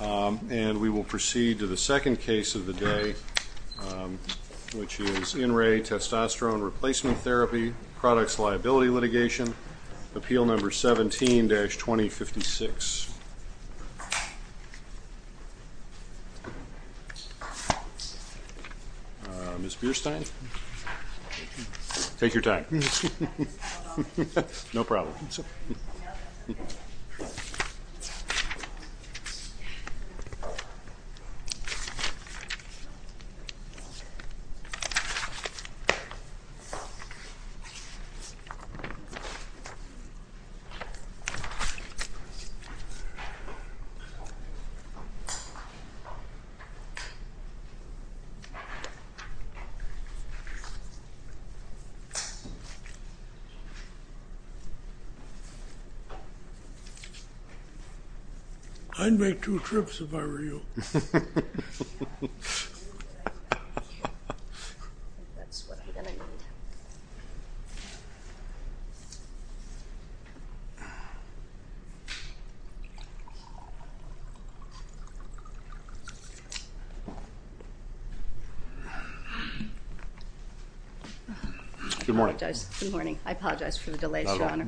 And we will proceed to the second case of the day, which is INRAE Testosterone Replacement Therapy Products Liability Litigation, Appeal Number 17-2056. Ms. Bierstein, take your time. No problem. I'd make two trips if I were you. That's what I'm going to need. Good morning. Good morning. I apologize for the delays, Your Honor.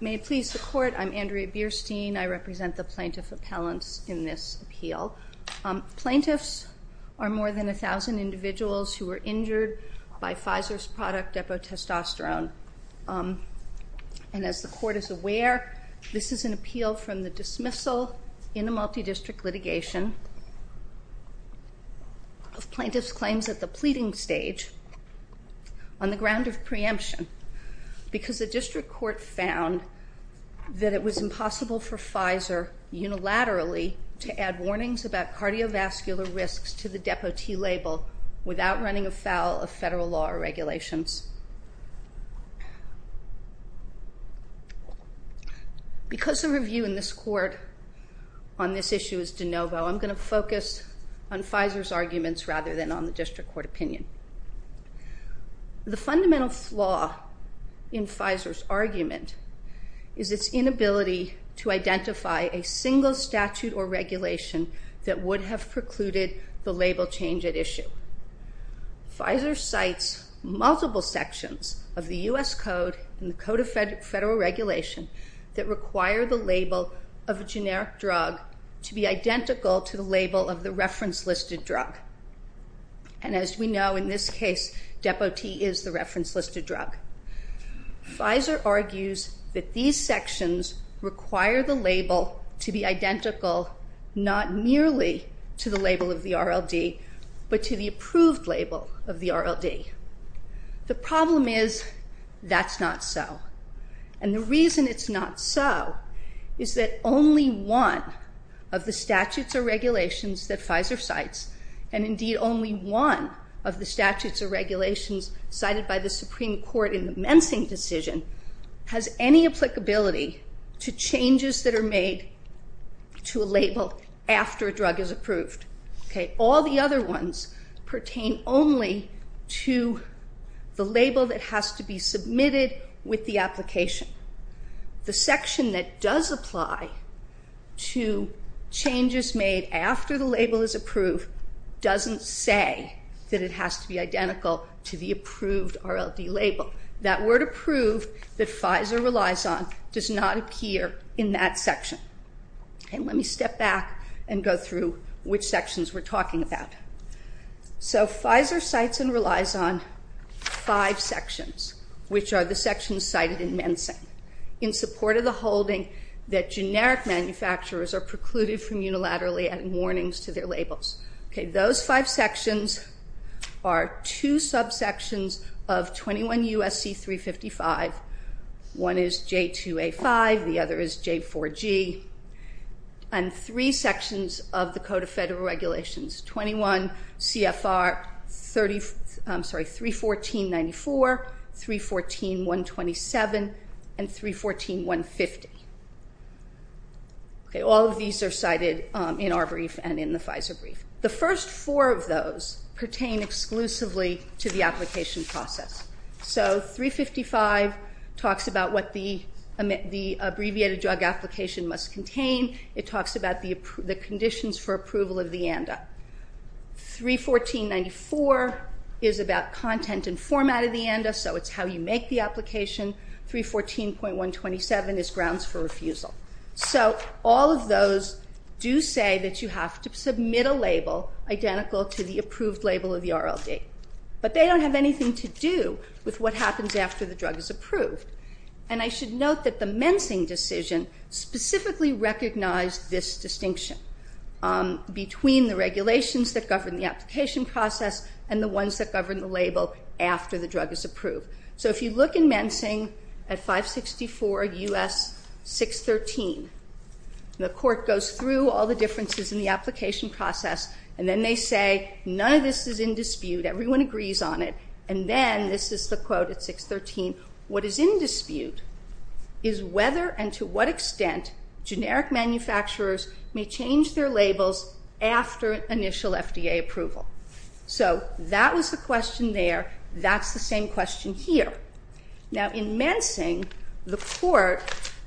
May it please the Court, I'm Andrea Bierstein. I represent the plaintiff appellants in this appeal. Plaintiffs are more than 1,000 individuals who were injured by Pfizer's product epitestosterone. And as the Court is aware, this is an appeal from the dismissal in a multidistrict litigation of plaintiffs' claims at the pleading stage on the ground of preemption because the district court found that it was impossible for Pfizer unilaterally to add warnings about cardiovascular risks to the depotee label without running afoul of federal law or regulations. Because the review in this Court on this issue is de novo, I'm going to focus on Pfizer's arguments rather than on the district court opinion. The fundamental flaw in Pfizer's argument is its inability to identify a single statute or regulation that would have precluded the label change at issue. Pfizer cites multiple sections of the U.S. Code and the Code of Federal Regulation that require the label of a generic drug to be identical to the label of the reference-listed drug. And as we know, in this case, depotee is the reference-listed drug. Pfizer argues that these sections require the label to be identical not merely to the label of the RLD, but to the approved label of the RLD. The problem is that's not so. And the reason it's not so is that only one of the statutes or regulations that Pfizer cites, and indeed only one of the statutes or regulations cited by the Supreme Court in the Mensing decision, has any applicability to changes that are made to a label after a drug is approved. All the other ones pertain only to the label that has to be submitted with the application. The section that does apply to changes made after the label is approved doesn't say that it has to be identical to the approved RLD label. That word approved that Pfizer relies on does not appear in that section. Let me step back and go through which sections we're talking about. Pfizer cites and relies on five sections, which are the sections cited in Mensing, in support of the holding that generic manufacturers are precluded from unilaterally adding warnings to their labels. Those five sections are two subsections of 21 U.S.C. 355. One is J2A5. The other is J4G. And three sections of the Code of Federal Regulations, 21 CFR 314.94, 314.127, and 314.150. All of these are cited in our brief and in the Pfizer brief. The first four of those pertain exclusively to the application process. So 355 talks about what the abbreviated drug application must contain. It talks about the conditions for approval of the ANDA. 314.94 is about content and format of the ANDA, so it's how you make the application. 314.127 is grounds for refusal. So all of those do say that you have to submit a label identical to the approved label of the RLD. But they don't have anything to do with what happens after the drug is approved. And I should note that the Mensing decision specifically recognized this distinction between the regulations that govern the application process and the ones that govern the label after the drug is approved. So if you look in Mensing at 564 U.S. 613, the court goes through all the differences in the application process, and then they say none of this is in dispute, everyone agrees on it. And then, this is the quote at 613, what is in dispute is whether and to what extent generic manufacturers may change their labels after initial FDA approval. So that was the question there. That's the same question here. Now, in Mensing, the court,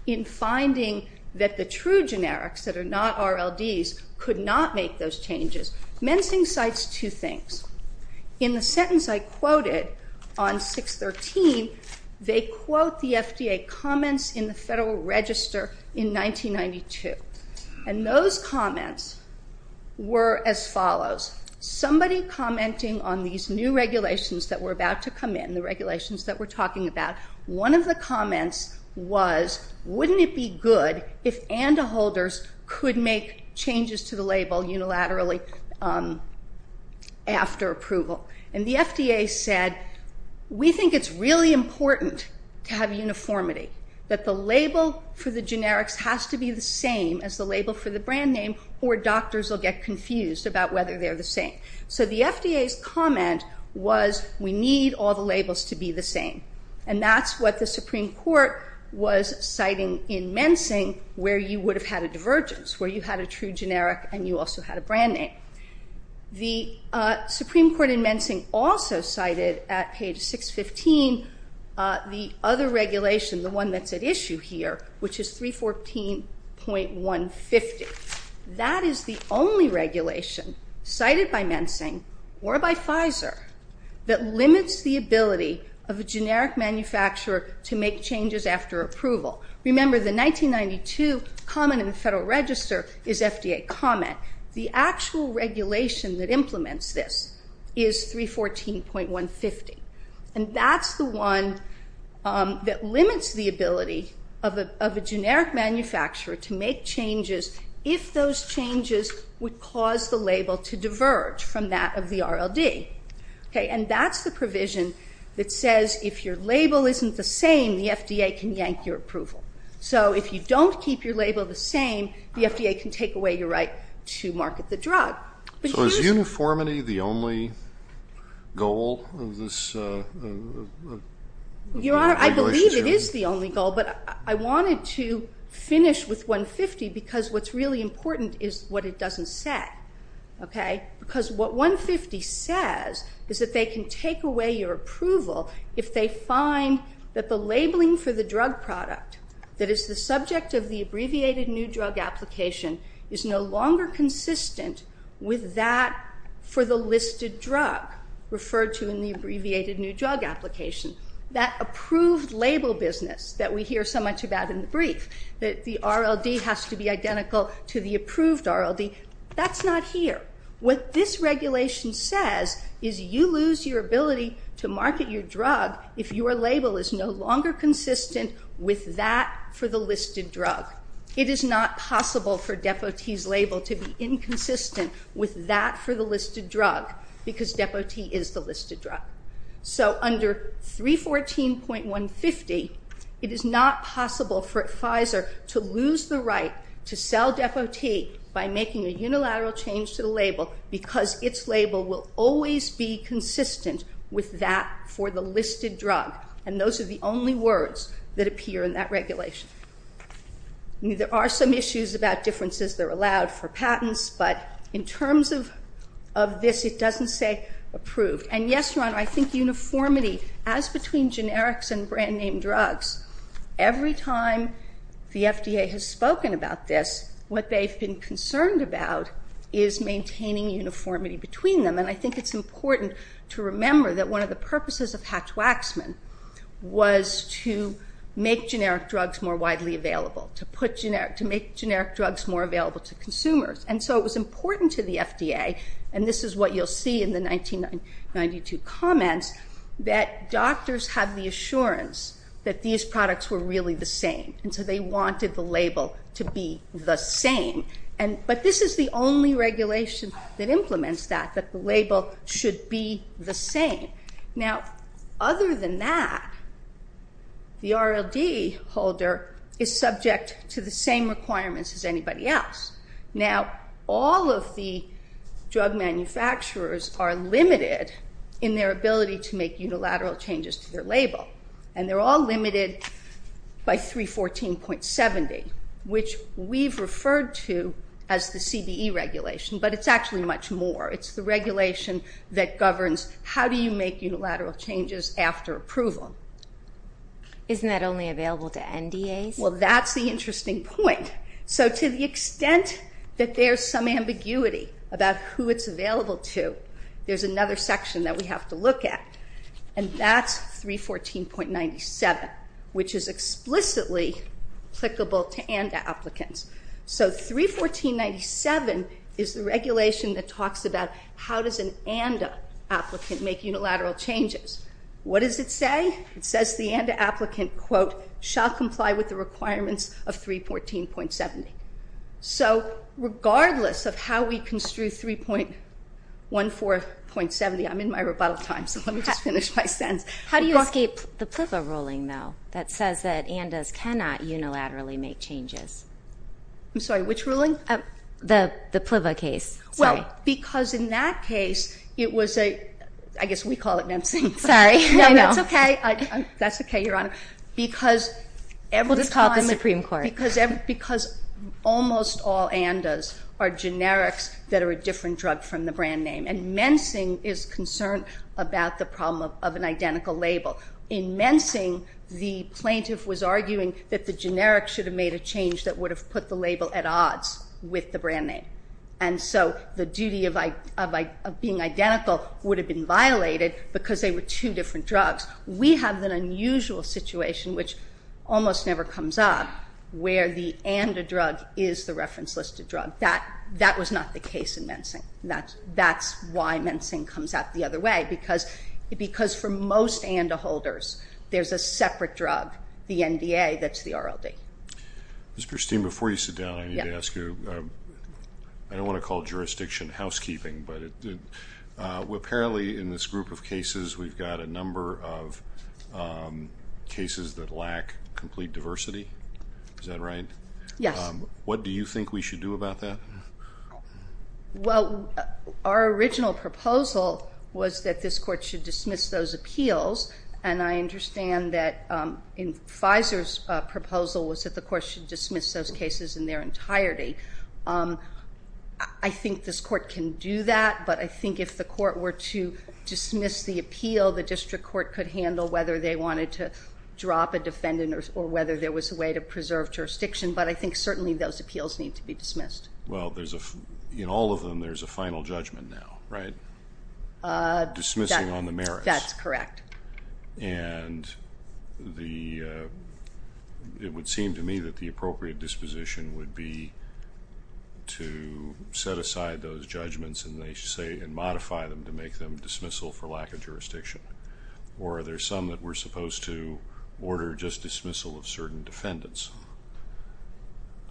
in finding that the true generics that are not RLDs could not make those changes, Mensing cites two things. In the sentence I quoted on 613, they quote the FDA comments in the Federal Register in 1992. And those comments were as follows. Somebody commenting on these new regulations that were about to come in, the regulations that we're talking about, one of the comments was, wouldn't it be good if ANDA holders could make changes to the label unilaterally after approval? And the FDA said, we think it's really important to have uniformity, that the label for the generics has to be the same as the label for the brand name, or doctors will get confused about whether they're the same. So the FDA's comment was, we need all the labels to be the same. And that's what the Supreme Court was citing in Mensing where you would have had a divergence, where you had a true generic and you also had a brand name. The Supreme Court in Mensing also cited at page 615 the other regulation, the one that's at issue here, which is 314.150. That is the only regulation cited by Mensing or by Pfizer that limits the ability of a generic manufacturer to make changes after approval. Remember, the 1992 comment in the Federal Register is FDA comment. The actual regulation that implements this is 314.150. And that's the one that limits the ability of a generic manufacturer to make changes if those changes would cause the label to diverge from that of the RLD. And that's the provision that says if your label isn't the same, the FDA can yank your approval. So if you don't keep your label the same, the FDA can take away your right to market the drug. So is uniformity the only goal of this regulation? Your Honor, I believe it is the only goal. But I wanted to finish with 150 because what's really important is what it doesn't say. Because what 150 says is that they can take away your approval if they find that the labeling for the drug product that is the subject of the abbreviated new drug application is no longer consistent with that for the listed drug referred to in the abbreviated new drug application. That approved label business that we hear so much about in the brief, that the RLD has to be identical to the approved RLD, that's not here. What this regulation says is you lose your ability to market your drug if your label is no longer consistent with that for the listed drug. It is not possible for Depo-T's label to be inconsistent with that for the listed drug because Depo-T is the listed drug. So under 314.150, it is not possible for Pfizer to lose the right to sell Depo-T by making a unilateral change to the label because its label will always be consistent with that for the listed drug. And those are the only words that appear in that regulation. There are some issues about differences that are allowed for patents, but in terms of this, it doesn't say approved. And yes, Your Honor, I think uniformity, as between generics and brand-name drugs, every time the FDA has spoken about this, what they've been concerned about is maintaining uniformity between them. And I think it's important to remember that one of the purposes of Hatch-Waxman was to make generic drugs more widely available, to make generic drugs more available to consumers. And so it was important to the FDA, and this is what you'll see in the 1992 comments, that doctors have the assurance that these products were really the same. And so they wanted the label to be the same. But this is the only regulation that implements that, that the label should be the same. Now, other than that, the RLD holder is subject to the same requirements as anybody else. Now, all of the drug manufacturers are limited in their ability to make unilateral changes to their label. And they're all limited by 314.70, which we've referred to as the CBE regulation, but it's actually much more. It's the regulation that governs how do you make unilateral changes after approval. Isn't that only available to NDAs? Well, that's the interesting point. So to the extent that there's some ambiguity about who it's available to, there's another section that we have to look at, and that's 314.97, which is explicitly applicable to NDA applicants. So 314.97 is the regulation that talks about how does an NDA applicant make unilateral changes. What does it say? It says the NDA applicant, quote, shall comply with the requirements of 314.70. So regardless of how we construe 314.70, I'm in my rebuttal time, so let me just finish my sentence. How do you escape the PLVA ruling, though, that says that NDAs cannot unilaterally make changes? I'm sorry, which ruling? The PLVA case. Well, because in that case, it was a ‑‑ I guess we call it NEMC. Sorry. No, that's okay. That's okay, Your Honor. We'll just call it the Supreme Court. Because almost all NDAs are generics that are a different drug from the brand name, and mencing is concerned about the problem of an identical label. In mencing, the plaintiff was arguing that the generic should have made a change that would have put the label at odds with the brand name. And so the duty of being identical would have been violated because they were two different drugs. We have an unusual situation, which almost never comes up, where the ANDA drug is the reference listed drug. That was not the case in mencing. That's why mencing comes out the other way, because for most ANDA holders there's a separate drug, the NDA, that's the RLD. Ms. Berstein, before you sit down, I need to ask you, I don't want to call jurisdiction housekeeping, but apparently in this group of cases we've got a number of cases that lack complete diversity. Is that right? Yes. What do you think we should do about that? Well, our original proposal was that this court should dismiss those appeals, and I understand that Pfizer's proposal was that the court should dismiss those cases in their entirety. I think this court can do that, but I think if the court were to dismiss the appeal, the district court could handle whether they wanted to drop a defendant or whether there was a way to preserve jurisdiction, but I think certainly those appeals need to be dismissed. Well, in all of them there's a final judgment now, right? Dismissing on the merits. That's correct. And it would seem to me that the appropriate disposition would be to set aside those judgments and modify them to make them dismissal for lack of jurisdiction, or are there some that we're supposed to order just dismissal of certain defendants?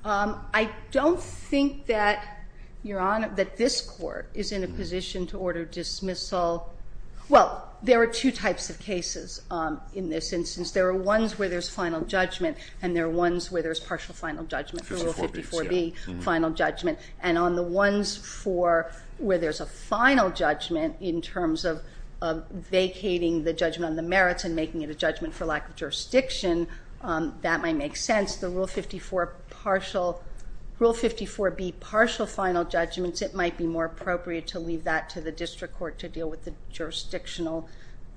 I don't think that, Your Honor, that this court is in a position to order dismissal. Well, there are two types of cases in this instance. There are ones where there's final judgment and there are ones where there's partial final judgment, the Rule 54B final judgment. And on the ones where there's a final judgment in terms of vacating the judgment on the merits and making it a judgment for lack of jurisdiction, that might make sense. The Rule 54B partial final judgments, it might be more appropriate to leave that to the district court to deal with the jurisdictional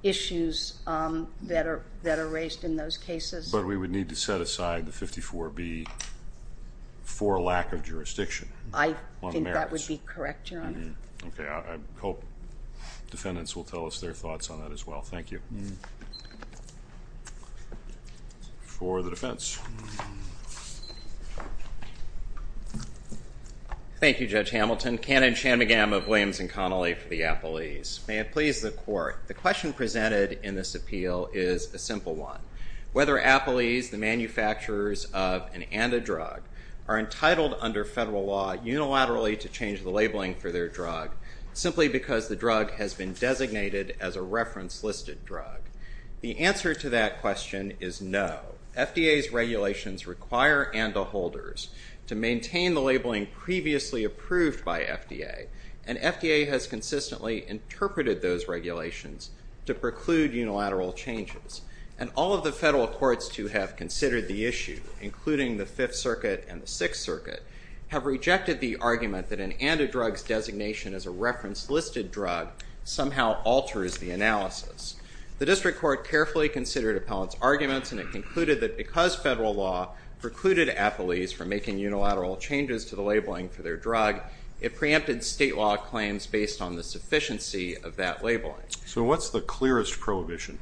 issues that are raised in those cases. But we would need to set aside the 54B for lack of jurisdiction on the merits. I think that would be correct, Your Honor. Okay. I hope defendants will tell us their thoughts on that as well. Thank you. For the defense. Thank you, Judge Hamilton. Canon Shanmugam of Williams and Connolly for the appellees. May it please the court. The question presented in this appeal is a simple one. Whether appellees, the manufacturers of an antidrug, are entitled under federal law unilaterally to change the labeling for their drug simply because the drug has been designated as a reference listed drug. The answer to that question is no. FDA's regulations require antiholders to maintain the labeling previously approved by FDA, and FDA has consistently interpreted those regulations to preclude unilateral changes. And all of the federal courts to have considered the issue, including the Fifth Circuit and the Sixth Circuit, have rejected the argument that an antidrug's designation as a reference listed drug somehow alters the analysis. The district court carefully considered appellants' arguments, and it concluded that because federal law precluded appellees from making unilateral changes to the labeling for their drug, it preempted state law claims based on the sufficiency of that labeling. So what's the clearest prohibition?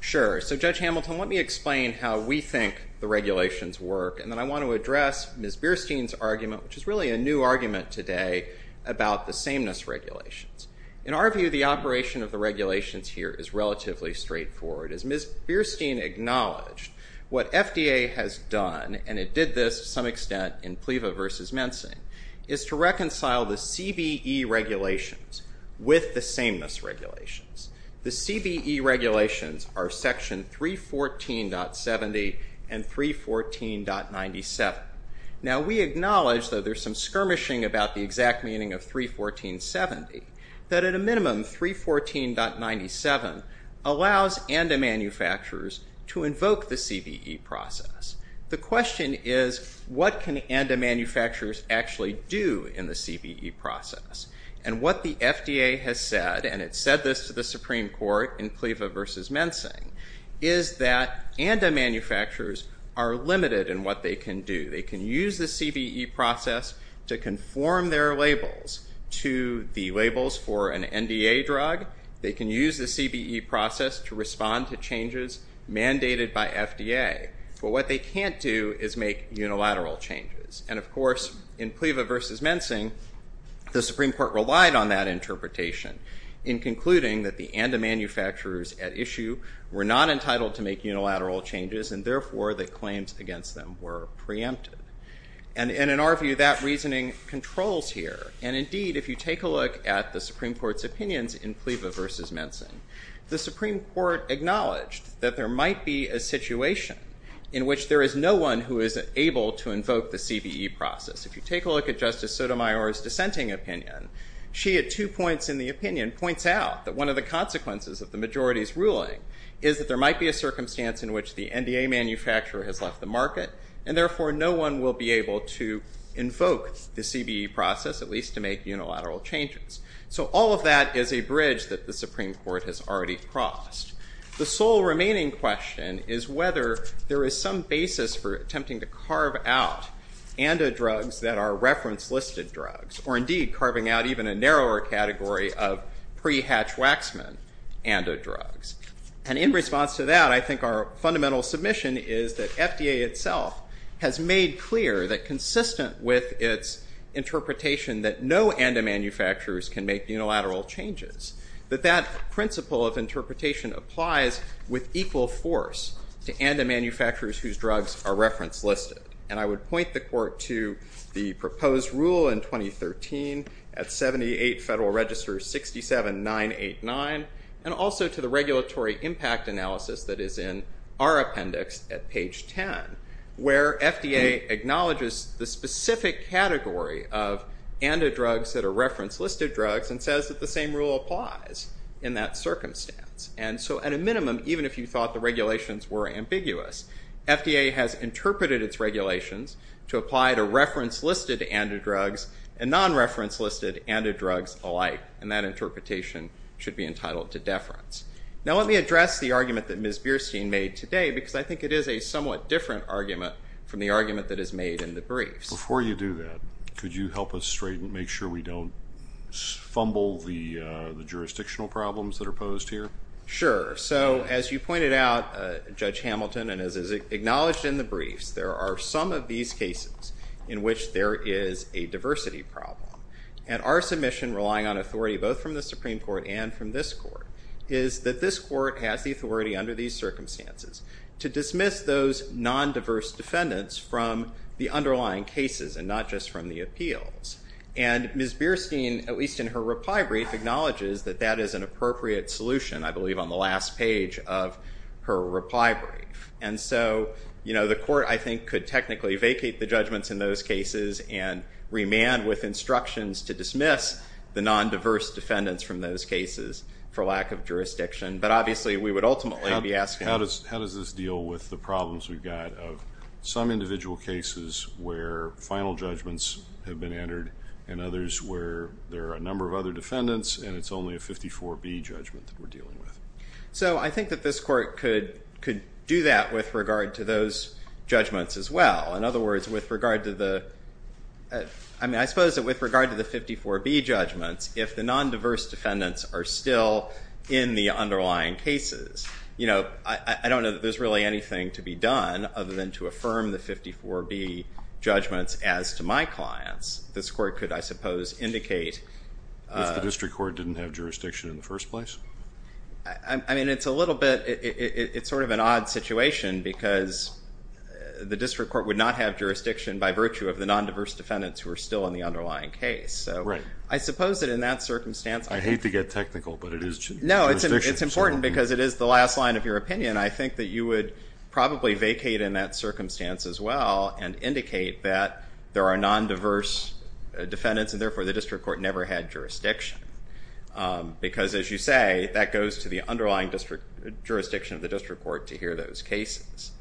Sure. So, Judge Hamilton, let me explain how we think the regulations work, and then I want to address Ms. Bierstein's argument, which is really a new argument today about the sameness regulations. In our view, the operation of the regulations here is relatively straightforward. As Ms. Bierstein acknowledged, what FDA has done, and it did this to some extent in PLEVA versus mensing, is to reconcile the CBE regulations with the sameness regulations. The CBE regulations are Section 314.70 and 314.97. Now, we acknowledge that there's some skirmishing about the exact meaning of 314.70, that at a minimum, 314.97 allows ANDA manufacturers to invoke the CBE process. The question is, what can ANDA manufacturers actually do in the CBE process? And what the FDA has said, and it said this to the Supreme Court in PLEVA versus mensing, is that ANDA manufacturers are limited in what they can do. They can use the CBE process to conform their labels to the labels for an NDA drug. They can use the CBE process to respond to changes mandated by FDA. But what they can't do is make unilateral changes. And, of course, in PLEVA versus mensing, the Supreme Court relied on that interpretation in concluding that the ANDA manufacturers at issue were not entitled to make unilateral changes and, therefore, that claims against them were preempted. And in our view, that reasoning controls here. And, indeed, if you take a look at the Supreme Court's opinions in PLEVA versus mensing, the Supreme Court acknowledged that there might be a situation in which there is no one who is able to invoke the CBE process. If you take a look at Justice Sotomayor's dissenting opinion, she at two points in the opinion points out that one of the consequences of the majority's ruling is that there might be a circumstance in which the NDA manufacturer has left the market, and, therefore, no one will be able to invoke the CBE process, at least to make unilateral changes. So all of that is a bridge that the Supreme Court has already crossed. The sole remaining question is whether there is some basis for attempting to carve out ANDA drugs that are reference-listed drugs, or, indeed, carving out even a narrower category of pre-Hatch-Waxman ANDA drugs. And in response to that, I think our fundamental submission is that FDA itself has made clear that consistent with its interpretation that no ANDA manufacturers can make unilateral changes, that that principle of interpretation applies with equal force to ANDA manufacturers whose drugs are reference-listed. And I would point the Court to the proposed rule in 2013 at 78 Federal Register 67-989, and also to the regulatory impact analysis that is in our appendix at page 10, where FDA acknowledges the specific category of ANDA drugs that are reference-listed drugs and says that the same rule applies in that circumstance. And so, at a minimum, even if you thought the regulations were ambiguous, FDA has interpreted its regulations to apply to reference-listed ANDA drugs and non-reference-listed ANDA drugs alike. And that interpretation should be entitled to deference. Now let me address the argument that Ms. Bierstein made today, because I think it is a somewhat different argument from the argument that is made in the briefs. Before you do that, could you help us straighten, make sure we don't fumble the jurisdictional problems that are posed here? Sure. So, as you pointed out, Judge Hamilton, and as is acknowledged in the briefs, there are some of these cases in which there is a diversity problem. And our submission, relying on authority both from the Supreme Court and from this Court, is that this Court has the authority under these circumstances to dismiss those non-diverse defendants from the underlying cases and not just from the appeals. And Ms. Bierstein, at least in her reply brief, acknowledges that that is an appropriate solution, I believe, on the last page of her reply brief. And so, you know, the Court, I think, could technically vacate the judgments in those cases and remand with instructions to dismiss the non-diverse defendants from those cases for lack of jurisdiction. But, obviously, we would ultimately be asking— How does this deal with the problems we've got of some individual cases where final judgments have been entered and others where there are a number of other defendants and it's only a 54B judgment that we're dealing with? So, I think that this Court could do that with regard to those judgments as well. In other words, with regard to the— I mean, I suppose that with regard to the 54B judgments, if the non-diverse defendants are still in the underlying cases, you know, I don't know that there's really anything to be done other than to affirm the 54B judgments as to my clients. This Court could, I suppose, indicate— If the district court didn't have jurisdiction in the first place? I mean, it's a little bit—it's sort of an odd situation because the district court would not have jurisdiction by virtue of the non-diverse defendants who are still in the underlying case. Right. I suppose that in that circumstance— I hate to get technical, but it is jurisdiction. No, it's important because it is the last line of your opinion. I think that you would probably vacate in that circumstance as well and indicate that there are non-diverse defendants and therefore the district court never had jurisdiction because, as you say, that goes to the underlying jurisdiction of the district court to hear those cases.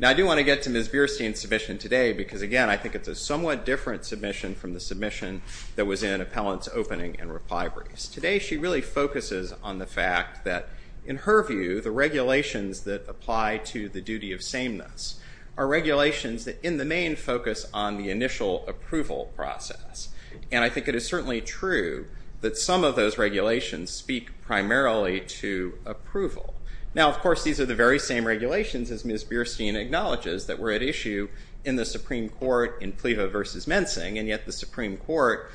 Now, I do want to get to Ms. Bierstein's submission today because, again, I think it's a somewhat different submission from the submission that was in Appellant's opening and reply briefs. Today she really focuses on the fact that, in her view, the regulations that apply to the duty of sameness are regulations that, in the main, focus on the initial approval process. And I think it is certainly true that some of those regulations speak primarily to approval. Now, of course, these are the very same regulations, as Ms. Bierstein acknowledges, that were at issue in the Supreme Court in Pleve versus Mensing, and yet the Supreme Court,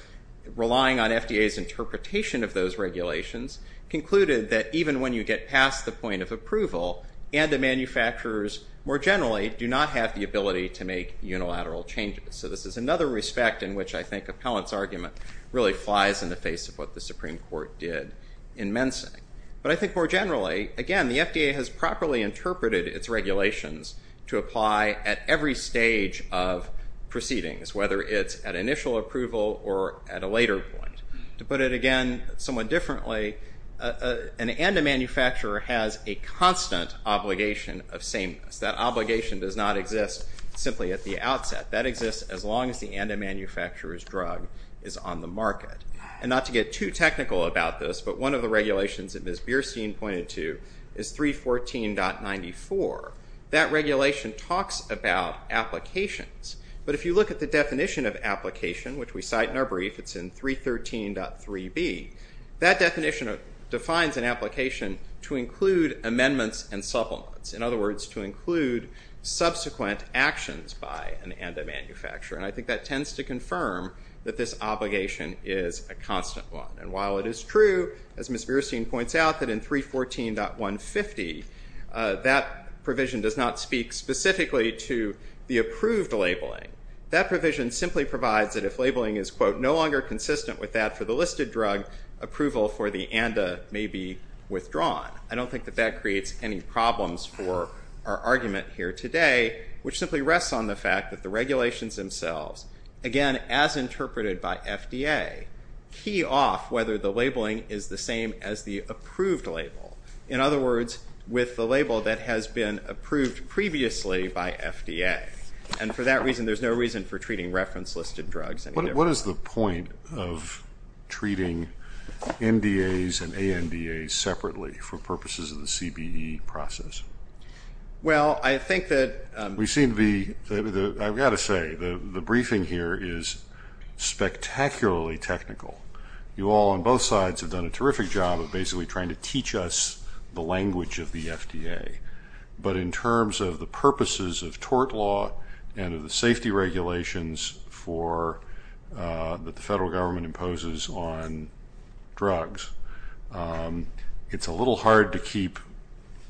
relying on FDA's interpretation of those regulations, concluded that even when you get past the point of approval and the manufacturers more generally do not have the ability to make unilateral changes. So this is another respect in which I think Appellant's argument really flies in the face of what the Supreme Court did in Mensing. But I think more generally, again, the FDA has properly interpreted its regulations to apply at every stage of proceedings, whether it's at initial approval or at a later point. To put it again somewhat differently, an ANDA manufacturer has a constant obligation of sameness. That obligation does not exist simply at the outset. That exists as long as the ANDA manufacturer's drug is on the market. And not to get too technical about this, but one of the regulations that Ms. Bierstein pointed to is 314.94. That regulation talks about applications. But if you look at the definition of application, which we cite in our brief, it's in 313.3b, that definition defines an application to include amendments and supplements. In other words, to include subsequent actions by an ANDA manufacturer. And I think that tends to confirm that this obligation is a constant one. And while it is true, as Ms. Bierstein points out, that in 314.150, that provision does not speak specifically to the approved labeling. That provision simply provides that if labeling is, quote, no longer consistent with that for the listed drug, approval for the ANDA may be withdrawn. I don't think that that creates any problems for our argument here today, which simply rests on the fact that the regulations themselves, again, as interpreted by FDA, key off whether the labeling is the same as the approved label. In other words, with the label that has been approved previously by FDA. And for that reason, there's no reason for treating reference-listed drugs. What is the point of treating NDAs and ANDAs separately for purposes of the CBE process? Well, I think that... We've seen the... I've got to say, the briefing here is spectacularly technical. You all on both sides have done a terrific job of basically trying to teach us the language of the FDA. But in terms of the purposes of tort law and of the safety regulations for... that the federal government imposes on drugs, it's a little hard to keep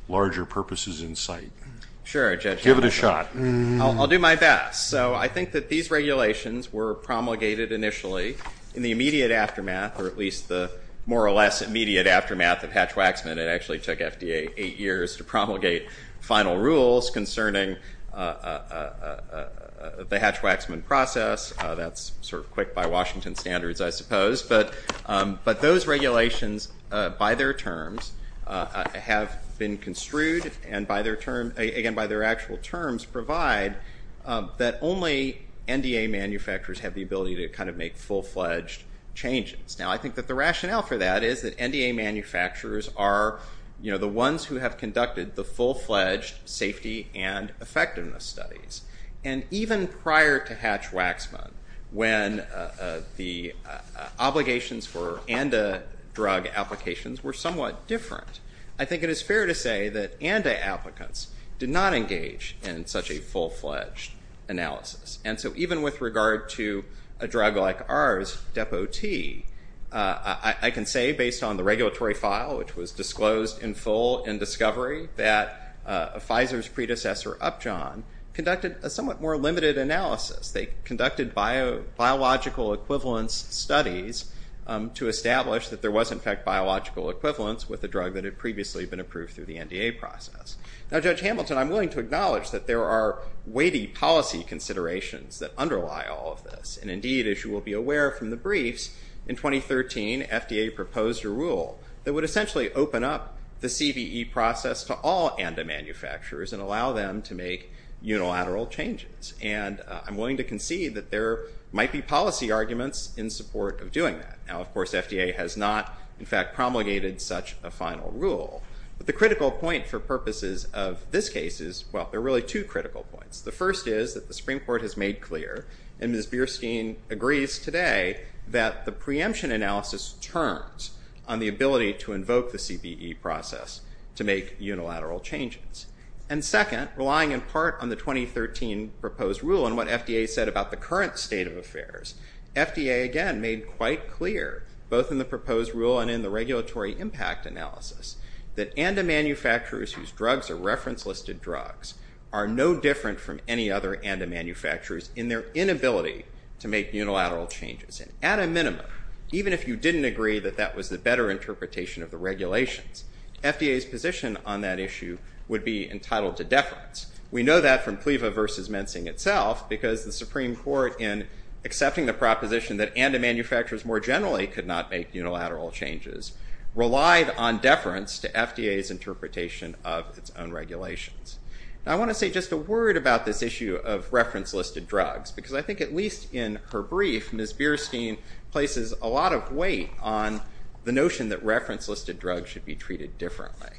larger purposes in sight. Sure, Judge. Give it a shot. I'll do my best. So I think that these regulations were promulgated initially in the immediate aftermath, or at least the more or less immediate aftermath of Hatch-Waxman. It actually took FDA eight years to promulgate final rules concerning the Hatch-Waxman process. That's sort of quick by Washington standards, I suppose. But those regulations, by their terms, have been construed, and again, by their actual terms, provide that only NDA manufacturers have the ability to kind of make full-fledged changes. Now, I think that the rationale for that is that NDA manufacturers are the ones who have conducted the full-fledged safety and effectiveness studies. And even prior to Hatch-Waxman, when the obligations for ANDA drug applications were somewhat different, I think it is fair to say that ANDA applicants did not engage in such a full-fledged analysis. And so even with regard to a drug like ours, Depo-T, I can say, based on the regulatory file, which was disclosed in full in discovery, that Pfizer's predecessor, Upjohn, conducted a somewhat more limited analysis. They conducted biological equivalence studies to establish that there was, in fact, biological equivalence with a drug that had previously been approved through the NDA process. Now, Judge Hamilton, I'm willing to acknowledge that there are weighty policy considerations that underlie all of this. And indeed, as you will be aware from the briefs, in 2013, FDA proposed a rule that would essentially open up the CVE process to all ANDA manufacturers and allow them to make unilateral changes. And I'm willing to concede that there might be policy arguments in support of doing that. Now, of course, FDA has not, in fact, promulgated such a final rule. But the critical point for purposes of this case is, well, there are really two critical points. The first is that the Supreme Court has made clear, and Ms. Bierstein agrees today, that the preemption analysis turns on the ability to invoke the CVE process to make unilateral changes. And second, relying in part on the 2013 proposed rule and what FDA said about the current state of affairs, FDA, again, made quite clear, both in the proposed rule and in the regulatory impact analysis, that ANDA manufacturers whose drugs are reference-listed drugs are no different from any other ANDA manufacturers in their inability to make unilateral changes. And at a minimum, even if you didn't agree that that was the better interpretation of the regulations, FDA's position on that issue would be entitled to deference. We know that from PLEVA v. Mensing itself, because the Supreme Court, in accepting the proposition that ANDA manufacturers more generally could not make unilateral changes, relied on deference to FDA's interpretation of its own regulations. Now, I want to say just a word about this issue of reference-listed drugs, because I think at least in her brief, Ms. Bierstein places a lot of weight on the notion that reference-listed drugs should be treated differently.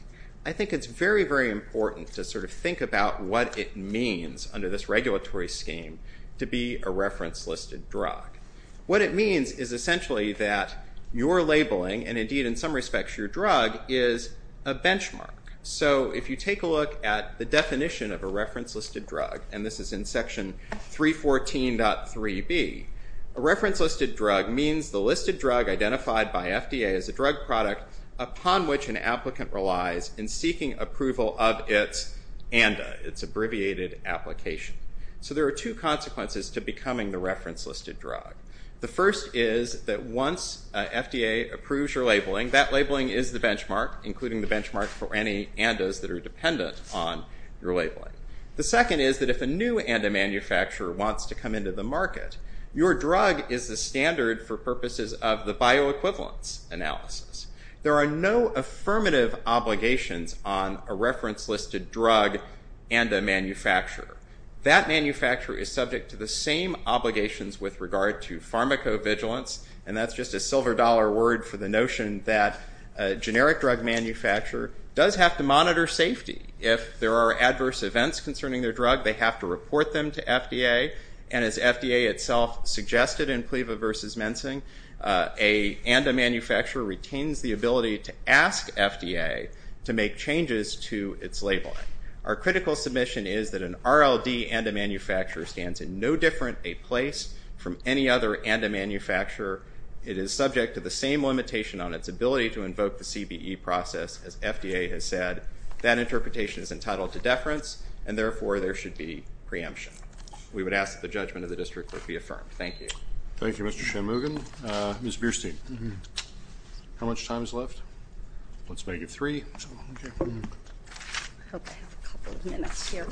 I think it's very, very important to sort of think about what it means under this regulatory scheme to be a reference-listed drug. What it means is essentially that your labeling, and indeed in some respects your drug, is a benchmark. So if you take a look at the definition of a reference-listed drug, and this is in section 314.3b, a reference-listed drug means the listed drug identified by FDA as a drug product upon which an applicant relies in seeking approval of its ANDA, its abbreviated application. So there are two consequences to becoming the reference-listed drug. The first is that once FDA approves your labeling, that labeling is the benchmark, including the benchmark for any ANDAs that are dependent on your labeling. The second is that if a new ANDA manufacturer wants to come into the market, your drug is the standard for purposes of the bioequivalence analysis. There are no affirmative obligations on a reference-listed drug ANDA manufacturer. That manufacturer is subject to the same obligations with regard to pharmacovigilance, and that's just a silver dollar word for the notion that a generic drug manufacturer does have to monitor safety. If there are adverse events concerning their drug, they have to report them to FDA, and as FDA itself suggested in PLEVA versus mensing, an ANDA manufacturer retains the ability to ask FDA to make changes to its labeling. Our critical submission is that an RLD ANDA manufacturer stands in no different a place from any other ANDA manufacturer. It is subject to the same limitation on its ability to invoke the CBE process. As FDA has said, that interpretation is entitled to deference, and therefore there should be preemption. We would ask that the judgment of the district be affirmed. Thank you, Mr. Shanmugam. Ms. Bierstein, how much time is left? Let's make it three. I hope I have a couple of minutes here.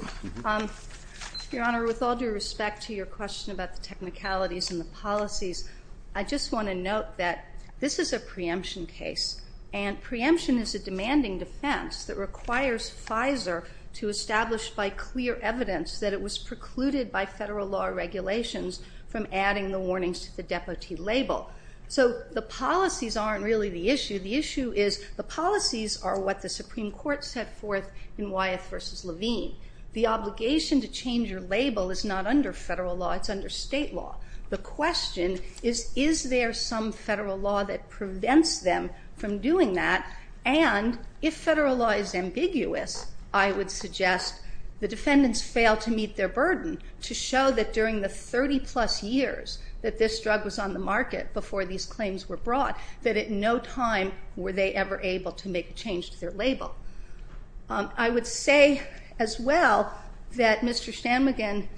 Your Honor, with all due respect to your question about the technicalities and the policies, I just want to note that this is a preemption case, and preemption is a demanding defense that requires Pfizer to establish by clear evidence that it was precluded by federal law regulations So the policies aren't really the issue. The issue is the policies are what the Supreme Court set forth in Wyeth v. Levine. The obligation to change your label is not under federal law. It's under state law. The question is, is there some federal law that prevents them from doing that? And if federal law is ambiguous, I would suggest the defendants fail to meet their burden to show that during the 30-plus years that this drug was on the market before these claims were brought, that at no time were they ever able to make a change to their label. I would say as well that Mr. Shanmugam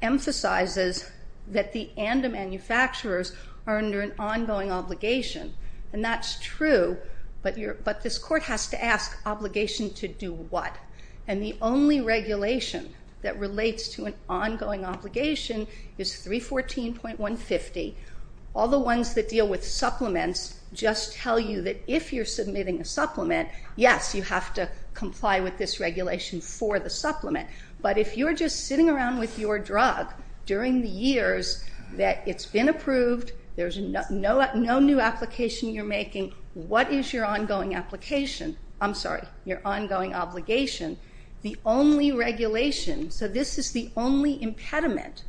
emphasizes that the ANDA manufacturers are under an ongoing obligation, and that's true, but this Court has to ask, obligation to do what? And the only regulation that relates to an ongoing obligation is 314.150. All the ones that deal with supplements just tell you that if you're submitting a supplement, yes, you have to comply with this regulation for the supplement, but if you're just sitting around with your drug during the years that it's been approved, there's no new application you're making, what is your ongoing application? I'm sorry, your ongoing obligation? The only regulation, so this is the only impediment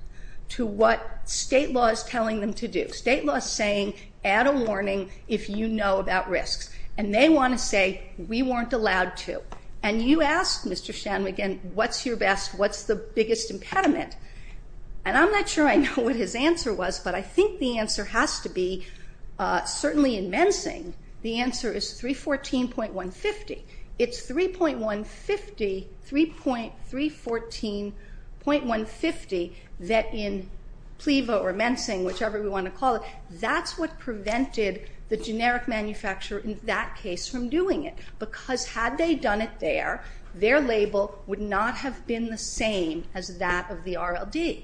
to what state law is telling them to do. State law is saying, add a warning if you know about risks, and they want to say, we weren't allowed to. And you ask Mr. Shanmugam, what's your best, what's the biggest impediment? And I'm not sure I know what his answer was, but I think the answer has to be, certainly in Mensing, the answer is 314.150. It's 3.150, 3.314.150, that in PLEVO or Mensing, whichever we want to call it, that's what prevented the generic manufacturer in that case from doing it, because had they done it there, their label would not have been the same as that of the RLD.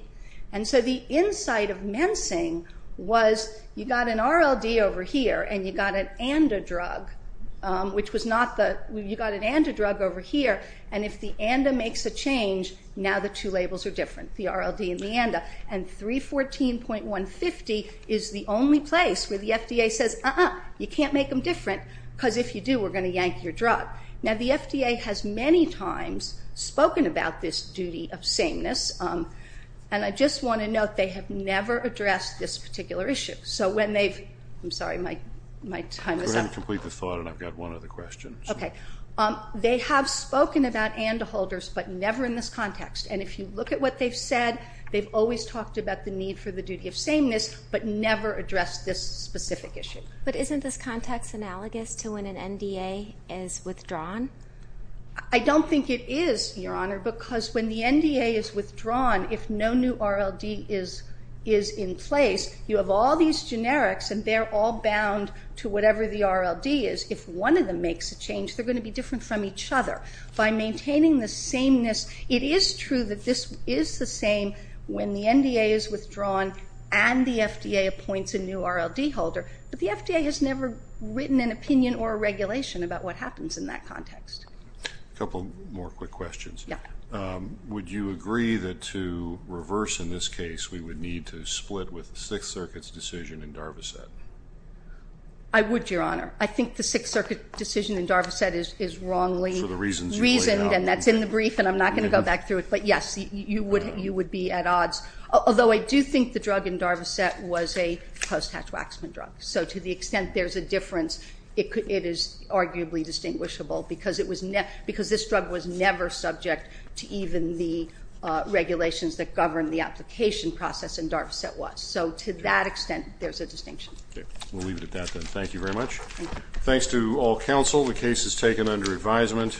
And so the insight of Mensing was you got an RLD over here, and you got an and a drug, which was not the, you got an and a drug over here, and if the and a makes a change, now the two labels are different, the RLD and the and a. And 314.150 is the only place where the FDA says, uh-uh, you can't make them different, because if you do, we're going to yank your drug. Now the FDA has many times spoken about this duty of sameness, and I just want to note they have never addressed this particular issue. So when they've, I'm sorry, my time is up. Go ahead and complete the thought, and I've got one other question. Okay. They have spoken about and-a holders, but never in this context. And if you look at what they've said, they've always talked about the need for the duty of sameness, but never addressed this specific issue. But isn't this context analogous to when an NDA is withdrawn? I don't think it is, Your Honor, because when the NDA is withdrawn, if no new RLD is in place, you have all these generics, and they're all bound to whatever the RLD is. If one of them makes a change, they're going to be different from each other. By maintaining the sameness, it is true that this is the same when the NDA is withdrawn and the FDA appoints a new RLD holder, but the FDA has never written an opinion or a regulation about what happens in that context. A couple more quick questions. Yeah. Would you agree that to reverse in this case, we would need to split with the Sixth Circuit's decision in Darvocet? I would, Your Honor. I think the Sixth Circuit decision in Darvocet is wrongly reasoned, and that's in the brief, and I'm not going to go back through it. But, yes, you would be at odds, although I do think the drug in Darvocet was a post-hatch waxman drug. So to the extent there's a difference, it is arguably distinguishable because this drug was never subject to even the regulations that govern the application process in Darvocet was. So to that extent, there's a distinction. Okay. We'll leave it at that, then. Thank you very much. Thanks to all counsel. The case is taken under advisement.